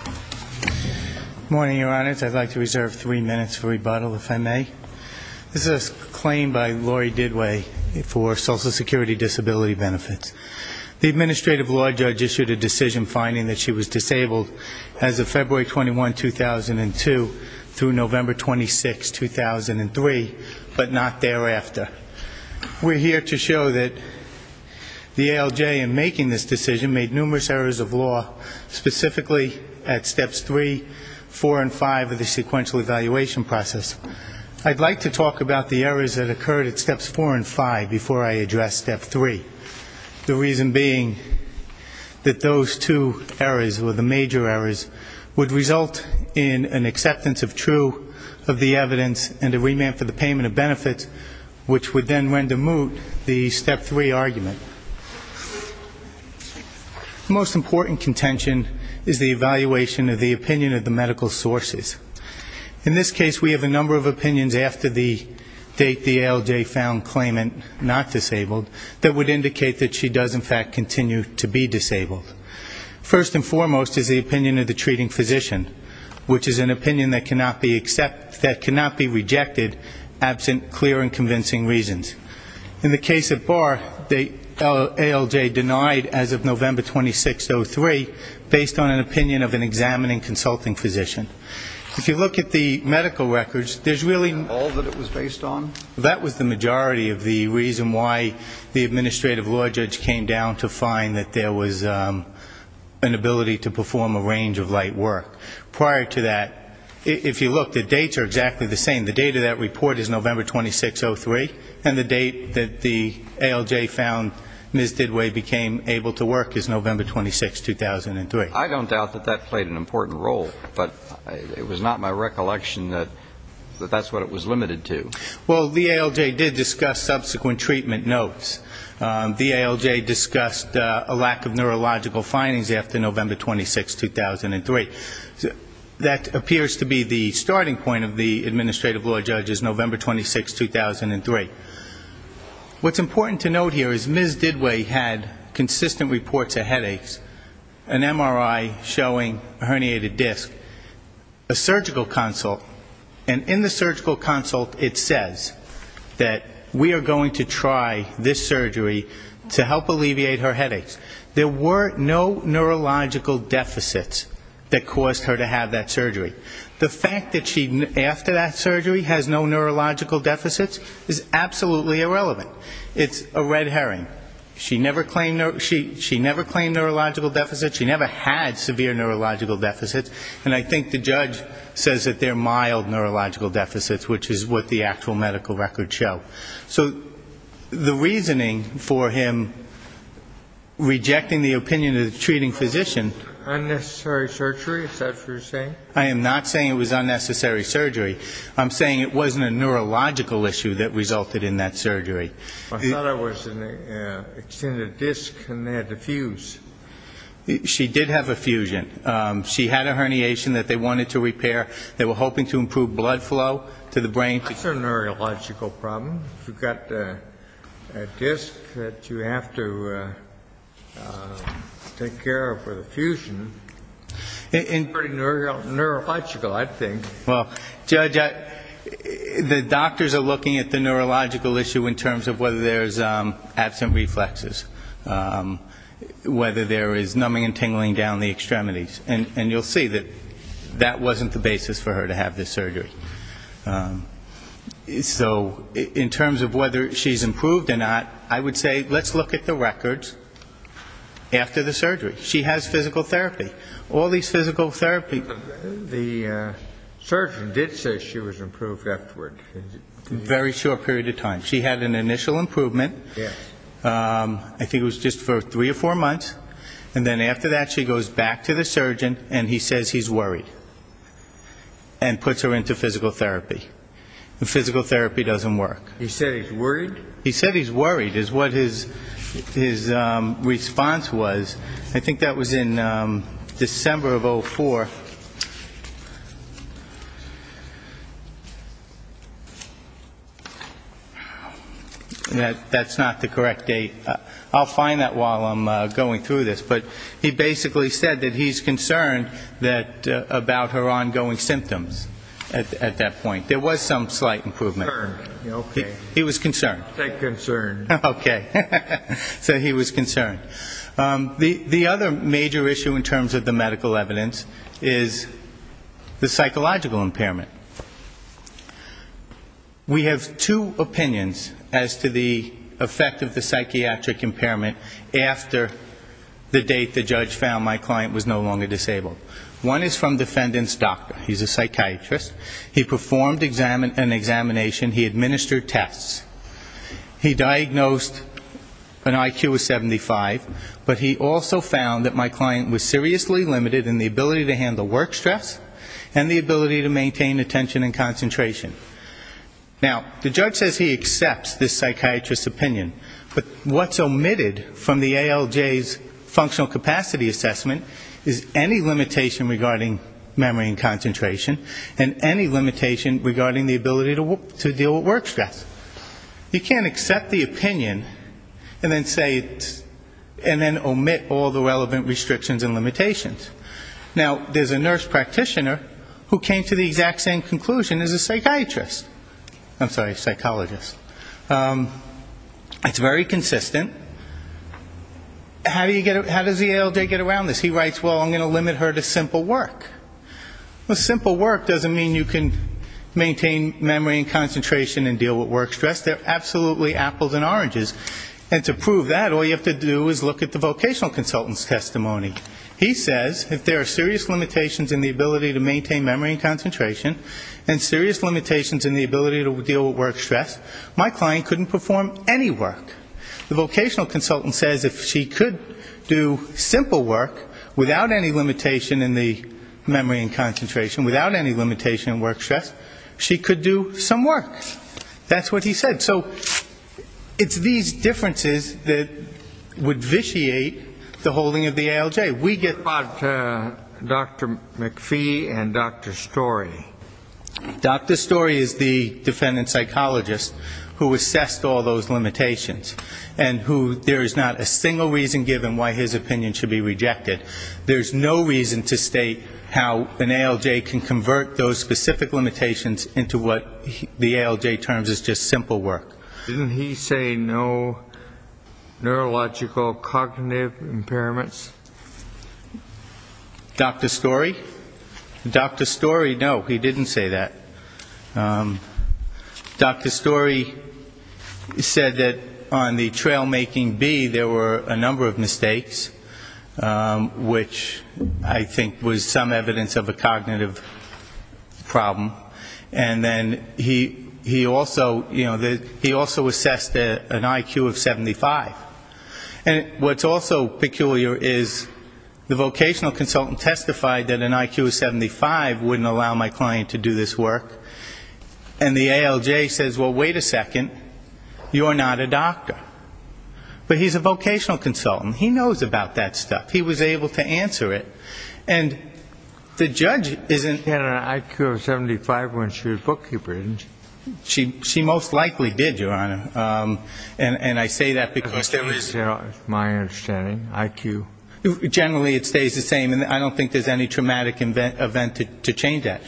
Good morning, your honors. I'd like to reserve three minutes for rebuttal, if I may. This is a claim by Lori Didway for Social Security disability benefits. The administrative law judge issued a decision finding that she was disabled as of February 21, 2002, through November 26, 2003, but not thereafter. We're here to show that the ALJ, in making this decision, made numerous errors of law, specifically at steps three, four, and five of the sequential evaluation process. I'd like to talk about the errors that occurred at steps four and five before I address step three, the reason being that those two errors, or the major errors, would result in an acceptance of true of the evidence and a remand for the payment of benefits, which would then render moot the step three argument. The most important contention is the evaluation of the opinion of the medical sources. In this case, we have a number of opinions after the date the ALJ found claimant not disabled that would indicate that she does, in fact, continue to be disabled. First and foremost is the opinion of the treating physician, which is an opinion that cannot be rejected, absent clear and convincing reasons. In the case of Barr, the ALJ denied, as of November 26, 2003, based on an opinion of an examining consulting physician. If you look at the medical records, there's really not all that it was based on. That was the majority of the reason why the administrative law judge came down to find that there was an ability to perform a range of light work. Prior to that, if you look, the dates are exactly the same. The date of that report is November 26, 2003, and the date that the ALJ found Ms. Didway became able to work is November 26, 2003. I don't doubt that that played an important role, but it was not my recollection that that's what it was limited to. Well, the ALJ did discuss subsequent treatment notes. The ALJ discussed a lack of neurological findings after November 26, 2003. That appears to be the starting point of the administrative law judge's November 26, 2003. What's important to note here is Ms. Didway had consistent reports of headaches, an MRI showing a herniated disc, a surgical consult, and in the surgical consult it says that we are going to try this surgery to help alleviate her headaches. There were no neurological deficits that caused her to have that surgery. The fact that she, after that surgery, has no neurological deficits is absolutely irrelevant. It's a red herring. She never claimed neurological deficits. She never had severe neurological deficits, and I think the judge says that they're mild neurological deficits, which is what the actual medical records show. So the reasoning for him rejecting the opinion of the treating physician. Unnecessary surgery, is that what you're saying? I am not saying it was unnecessary surgery. I'm saying it wasn't a neurological issue that resulted in that surgery. I thought it was an extended disc and they had to fuse. She did have a fusion. She had a herniation that they wanted to repair. They were hoping to improve blood flow to the brain. It's a neurological problem. You've got a disc that you have to take care of for the fusion. It's pretty neurological, I think. Well, Judge, the doctors are looking at the neurological issue in terms of whether there's absent reflexes, whether there is numbing and tingling down the extremities. And you'll see that that wasn't the basis for her to have this surgery. So in terms of whether she's improved or not, I would say let's look at the records after the surgery. She has physical therapy. All these physical therapies. The surgeon did say she was improved afterward. A very short period of time. She had an initial improvement. I think it was just for three or four months. And then after that she goes back to the surgeon and he says he's worried. And puts her into physical therapy. And physical therapy doesn't work. He said he's worried? He said he's worried is what his response was. I think that was in December of 04. That's not the correct date. I'll find that while I'm going through this. But he basically said that he's concerned about her ongoing symptoms at that point. There was some slight improvement. Okay. He was concerned. Concerned. Okay. So he was concerned. The other major issue in terms of the medical evidence is the psychological impairment. We have two opinions as to the effect of the psychiatric impairment after the date the judge found my client was no longer disabled. One is from defendant's doctor. He's a psychiatrist. He performed an examination. He administered tests. He diagnosed an IQ of 75. But he also found that my client was seriously limited in the ability to handle work stress and the ability to maintain attention and concentration. Now, the judge says he accepts this psychiatrist's opinion. But what's omitted from the ALJ's functional capacity assessment is any limitation regarding memory and concentration and any limitation regarding the ability to deal with work stress. You can't accept the opinion and then omit all the relevant restrictions and limitations. Now, there's a nurse practitioner who came to the exact same conclusion as a psychiatrist. I'm sorry, psychologist. It's very consistent. How does the ALJ get around this? He writes, well, I'm going to limit her to simple work. Well, simple work doesn't mean you can maintain memory and concentration and deal with work stress. They're absolutely apples and oranges. And to prove that, all you have to do is look at the vocational consultant's testimony. He says if there are serious limitations in the ability to maintain memory and concentration and serious limitations in the ability to deal with work stress, my client couldn't perform any work. The vocational consultant says if she could do simple work without any limitation in the memory and concentration, without any limitation in work stress, she could do some work. That's what he said. So it's these differences that would vitiate the holding of the ALJ. We get back to Dr. McPhee and Dr. Storey. Dr. Storey is the defendant psychologist who assessed all those limitations and who there is not a single reason given why his opinion should be rejected. There's no reason to state how an ALJ can convert those specific limitations into what the ALJ terms as just simple work. Didn't he say no neurological cognitive impairments? Dr. Storey? Dr. Storey, no, he didn't say that. Dr. Storey said that on the trail making B there were a number of mistakes, which I think was some evidence of a cognitive problem. And then he also, you know, he also assessed an IQ of 75. And what's also peculiar is the vocational consultant testified that an IQ of 75 wouldn't allow my client to do this work. And the ALJ says, well, wait a second, you're not a doctor. But he's a vocational consultant. He knows about that stuff. He was able to answer it. And the judge isn't ---- She had an IQ of 75 when she was a bookkeeper, didn't she? She most likely did, Your Honor. And I say that because ---- That's my understanding, IQ. Generally it stays the same. And I don't think there's any traumatic event to change that.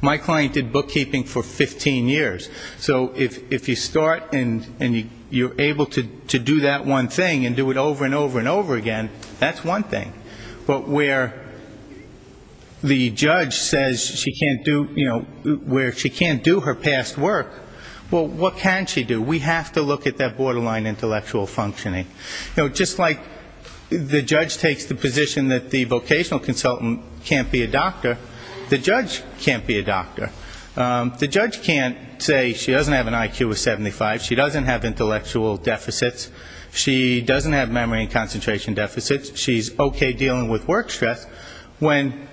My client did bookkeeping for 15 years. So if you start and you're able to do that one thing and do it over and over and over again, that's one thing. But where the judge says she can't do, you know, where she can't do her past work, well, what can she do? We have to look at that borderline intellectual functioning. You know, just like the judge takes the position that the vocational consultant can't be a doctor, the judge can't be a doctor. The judge can't say she doesn't have an IQ of 75, she doesn't have intellectual deficits, she doesn't have memory and concentration deficits, she's okay dealing with work stress, when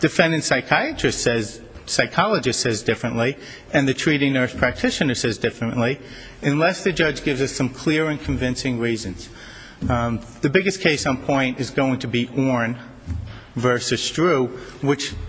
defendant psychiatrist says, psychologist says differently and the treating nurse practitioner says differently, unless the judge gives us some clear and convincing reasons. The biggest case on point is going to be Orne versus Drew,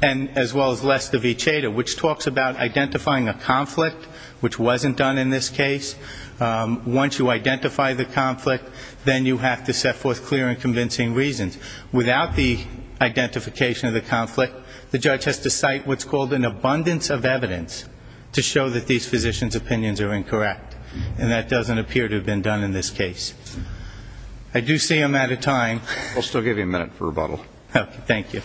as well as Lester v. Chader, which talks about identifying a conflict which wasn't done in this case. Once you identify the conflict, then you have to set forth clear and convincing reasons. Without the identification of the conflict, the judge has to cite what's called an abundance of evidence to show that these physicians' opinions are incorrect. And that doesn't appear to have been done in this case. I do see I'm out of time. I'll still give you a minute for rebuttal. Thank you.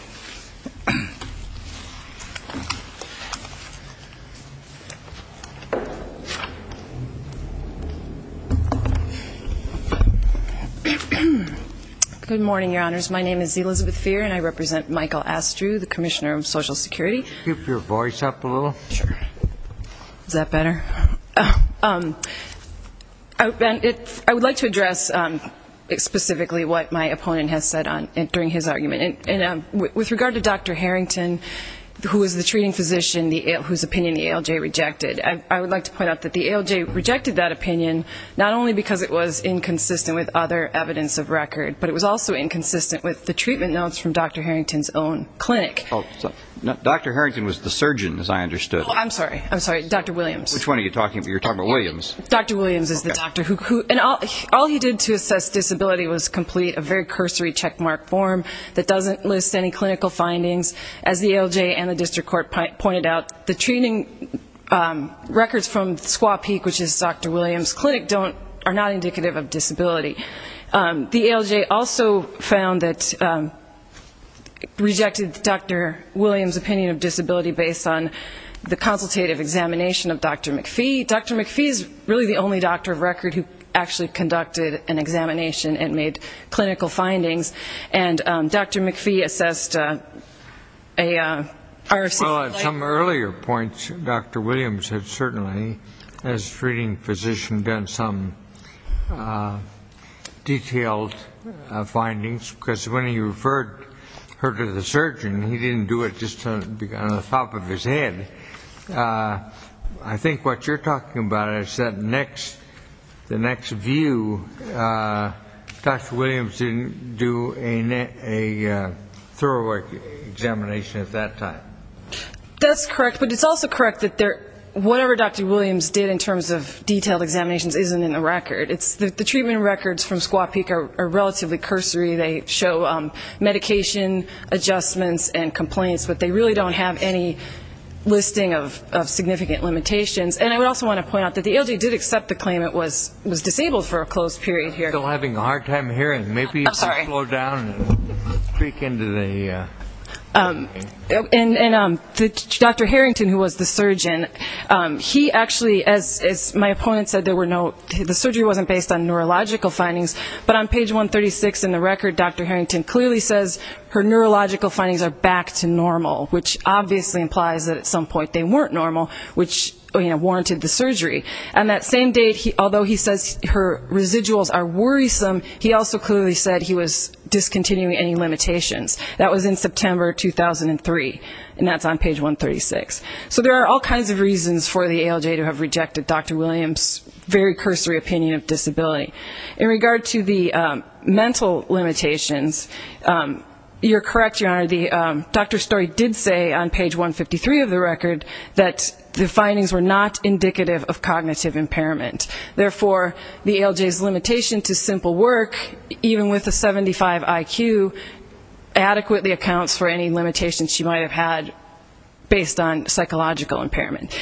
Good morning, Your Honors. My name is Elizabeth Feer and I represent Michael Astrew, the Commissioner of Social Security. Keep your voice up a little. Is that better? I would like to address specifically what my opponent has said during his argument. With regard to Dr. Harrington, who is the treating physician whose opinion the ALJ rejected, I would like to point out that the ALJ rejected that opinion, not only because it was inconsistent with other evidence of record, but it was also inconsistent with the treatment notes from Dr. Harrington's own clinic. Dr. Harrington was the surgeon, as I understood. I'm sorry. I'm sorry. Dr. Williams. Which one are you talking about? You're talking about Williams. Dr. Williams is the doctor. All he did to assess disability was complete a very cursory checkmark form that doesn't list any clinical findings. As the ALJ and the district court pointed out, the treating records from Squaw Peak, which is Dr. Williams' clinic, are not indicative of disability. The ALJ also found that it rejected Dr. Williams' opinion of disability based on the consultative examination of Dr. McPhee. Dr. McPhee is really the only doctor of record who actually conducted an examination and made clinical findings, and Dr. McPhee assessed a RFC. Well, at some earlier points, Dr. Williams had certainly, as treating physician, done some detailed findings, because when he referred her to the surgeon, he didn't do it just on the top of his head. I think what you're talking about is that the next view, Dr. Williams didn't do a thorough examination at that time. That's correct, but it's also correct that whatever Dr. Williams did in terms of detailed examinations isn't in the record. The treatment records from Squaw Peak are relatively cursory. They show medication adjustments and complaints, but they really don't have any listing of significant limitations. And I would also want to point out that the ALJ did accept the claim it was disabled for a closed period here. I'm still having a hard time hearing. Maybe you should slow down and tweak into the... And Dr. Harrington, who was the surgeon, he actually, as my opponent said, the surgery wasn't based on neurological findings, but on page 136 in the record, Dr. Harrington clearly says her neurological findings are back to normal, which obviously implies that at some point they weren't normal, which warranted the surgery. And that same date, although he says her residuals are worrisome, he also clearly said he was discontinuing any limitations. That was in September 2003, and that's on page 136. So there are all kinds of reasons for the ALJ to have rejected Dr. Williams' very cursory opinion of disability. In regard to the mental limitations, you're correct, Your Honor, the doctor's story did say on page 153 of the record that the findings were not indicative of cognitive impairment. Therefore, the ALJ's limitation to simple work, even with a 75 IQ, adequately accounts for any limitations she might have had based on psychological impairment.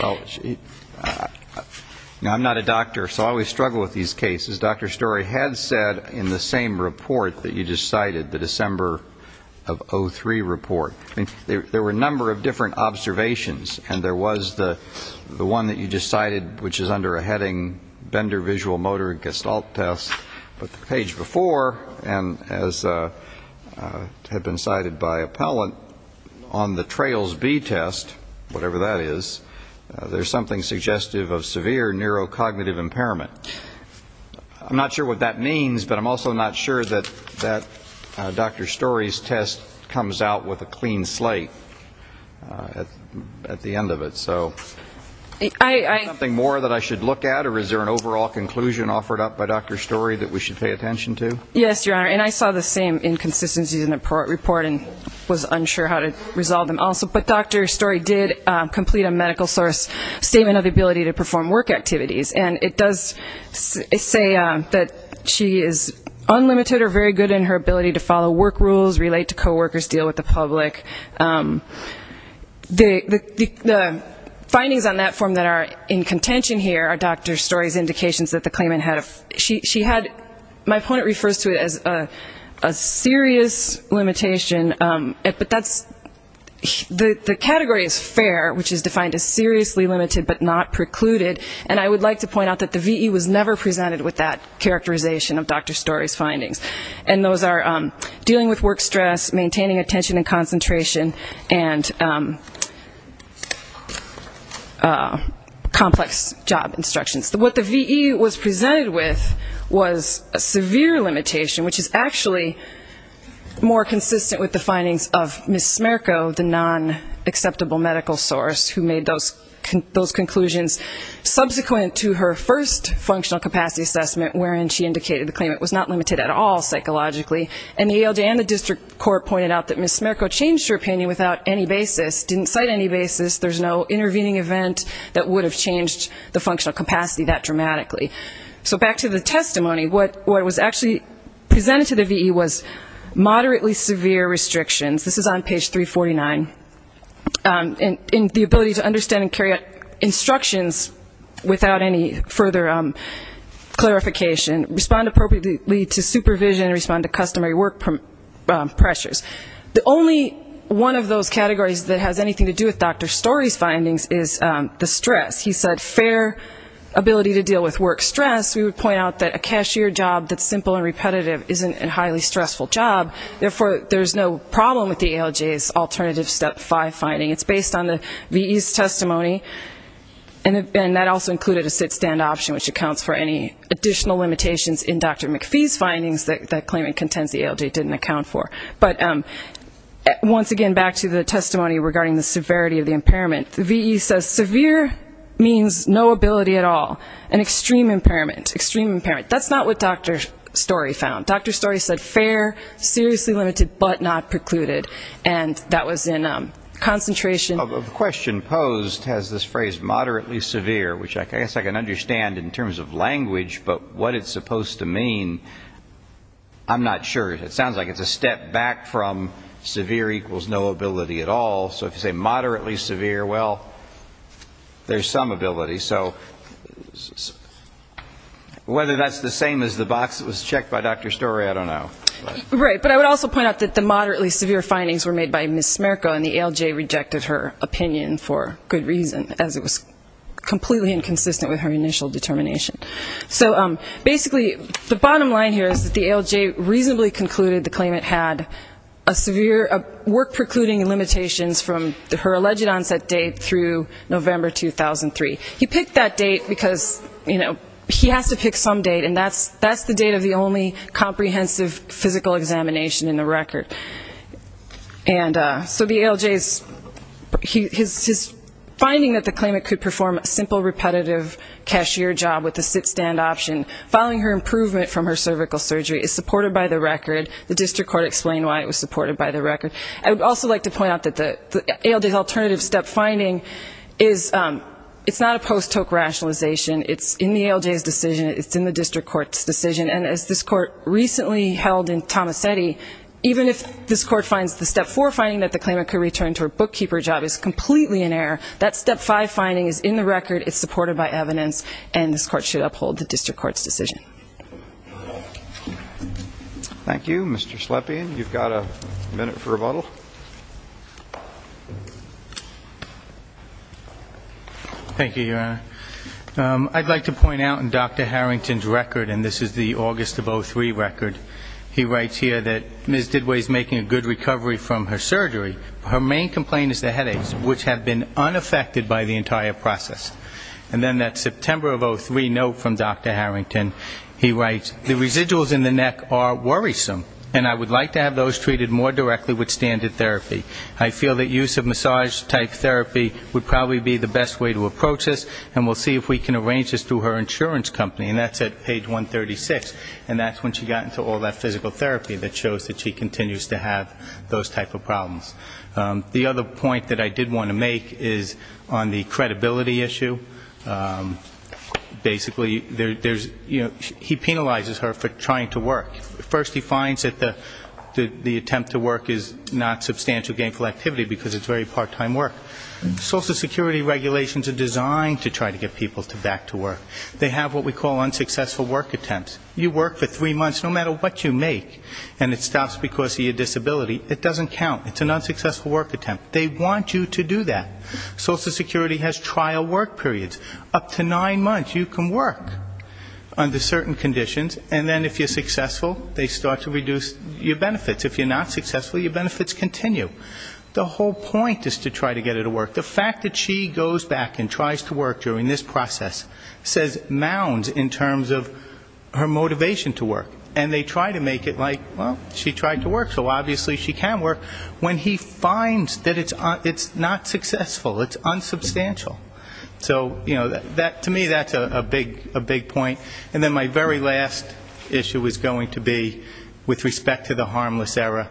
Now, I'm not a doctor, so I always struggle with these cases. Dr. Story had said in the same report that you just cited, the December of 2003 report. There were a number of different observations, and there was the one that you just cited, which is under a heading, Bender visual motor gestalt test. But the page before, and as had been cited by appellant, on the Trails B test, whatever that is, there's something suggestive of severe neurocognitive impairment. I'm not sure what that means, but I'm also not sure that Dr. Story's test comes out with a clean slate at the end of it. So is there something more that I should look at, or is there an overall conclusion offered up by Dr. Story that we should pay attention to? Yes, Your Honor, and I saw the same inconsistencies in the report and was unsure how to resolve them also. But Dr. Story did complete a medical source statement of the ability to perform work activities, and it does say that she is unlimited or very good in her ability to follow work rules, relate to coworkers, deal with the public. The findings on that form that are in contention here are Dr. Story's indications that the claimant had a... But the category is fair, which is defined as seriously limited but not precluded. And I would like to point out that the VE was never presented with that characterization of Dr. Story's findings. And those are dealing with work stress, maintaining attention and concentration, and complex job instructions. What the VE was presented with was a severe limitation, which is actually more consistent with the findings of Ms. Smerko, the non-acceptable medical source who made those conclusions. Subsequent to her first functional capacity assessment, wherein she indicated the claimant was not limited at all psychologically, and the ALJ and the district court pointed out that Ms. Smerko changed her opinion without any basis, didn't cite any basis. There's no intervening event that would have changed the functional capacity that dramatically. So back to the testimony. What was actually presented to the VE was moderately severe restrictions. This is on page 349. And the ability to understand and carry out instructions without any further clarification, respond appropriately to supervision, and respond to customary work pressures. The only one of those categories that has anything to do with Dr. Story's findings is the stress. He said fair ability to deal with work stress. We would point out that a cashier job that's simple and repetitive isn't a highly stressful job. Therefore, there's no problem with the ALJ's alternative Step 5 finding. It's based on the VE's testimony. And that also included a sit-stand option, which accounts for any additional limitations in Dr. McPhee's findings that claimant contends the ALJ didn't account for. But once again, back to the testimony regarding the severity of the impairment. The VE says severe means no ability at all. An extreme impairment. That's not what Dr. Story found. Dr. Story said fair, seriously limited, but not precluded. And that was in concentration. The question posed has this phrase moderately severe, which I guess I can understand in terms of language, but what it's supposed to mean I'm not sure. It sounds like it's a step back from severe equals no ability at all. So if you say moderately severe, well, there's some ability. So whether that's the same as the box that was checked by Dr. Story, I don't know. Right. But I would also point out that the moderately severe findings were made by Ms. Smerko and the ALJ rejected her opinion for good reason, as it was completely inconsistent with her initial determination. So basically the bottom line here is that the ALJ reasonably concluded the claimant had a severe work precluding limitations from her alleged onset date through November 2003. He picked that date because, you know, he has to pick some date, and that's the date of the only comprehensive physical examination in the record. And so the ALJ's finding that the claimant could perform a simple repetitive cashier job with a sit-stand option following her improvement from her cervical surgery is supported by the record. The district court explained why it was supported by the record. I would also like to point out that the ALJ's alternative step finding is not a post-toke rationalization. It's in the ALJ's decision. It's in the district court's decision. And as this court recently held in Tomasetti, even if this court finds the step 4 finding that the claimant could return to her bookkeeper job is completely in error, that step 5 finding is in the record, it's supported by evidence, and this court should uphold the district court's decision. Thank you. Mr. Slepian, you've got a minute for rebuttal. Thank you, Your Honor. I'd like to point out in Dr. Harrington's record, and this is the August of 03 record, he writes here that Ms. Didway's making a good recovery from her surgery. Her main complaint is the headaches, which have been unaffected by the entire process. And then that September of 03 note from Dr. Harrington, he writes, the residuals in the neck are worrisome, and I would like to have those treated more directly with standard therapy. I feel that use of massage-type therapy would probably be the best way to approach this, and we'll see if we can arrange this through her insurance company. And that's at page 136. And that's when she got into all that physical therapy that shows that she continues to have those type of problems. The other point that I did want to make is on the credibility issue. Basically, there's, you know, he penalizes her for trying to work. First he finds that the attempt to work is not substantial gainful activity, because it's very part-time work. Social security regulations are designed to try to get people back to work. They have what we call unsuccessful work attempts. You work for three months, no matter what you make, and it stops because of your disability, it doesn't count. It's an unsuccessful work attempt. They want you to do that. Social security has trial work periods. Up to nine months you can work under certain conditions, and then if you're successful, they start to reduce your benefits. If you're not successful, your benefits continue. The whole point is to try to get her to work. The fact that she goes back and tries to work during this process says mounds in terms of her motivation to work. And they try to make it like, well, she tried to work, so obviously she can work. When he finds that it's not successful, it's unsubstantial. So, you know, to me that's a big point. And then my very last issue is going to be with respect to the harmless error.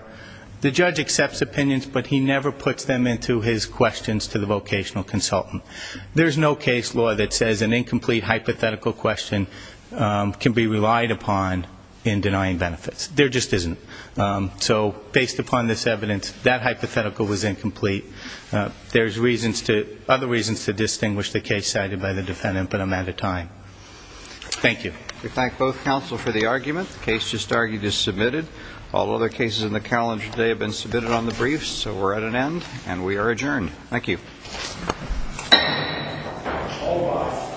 The judge accepts opinions, but he never puts them into his questions to the vocational consultant. There's no case law that says an incomplete hypothetical question can be relied upon in denying benefits. There just isn't. So based upon this evidence, that hypothetical was incomplete. There's other reasons to distinguish the case cited by the defendant, but I'm out of time. Thank you. We thank both counsel for the argument. The case just argued is submitted. All other cases in the calendar today have been submitted on the briefs, so we're at an end, and we are adjourned. Thank you. All rise. Thank you.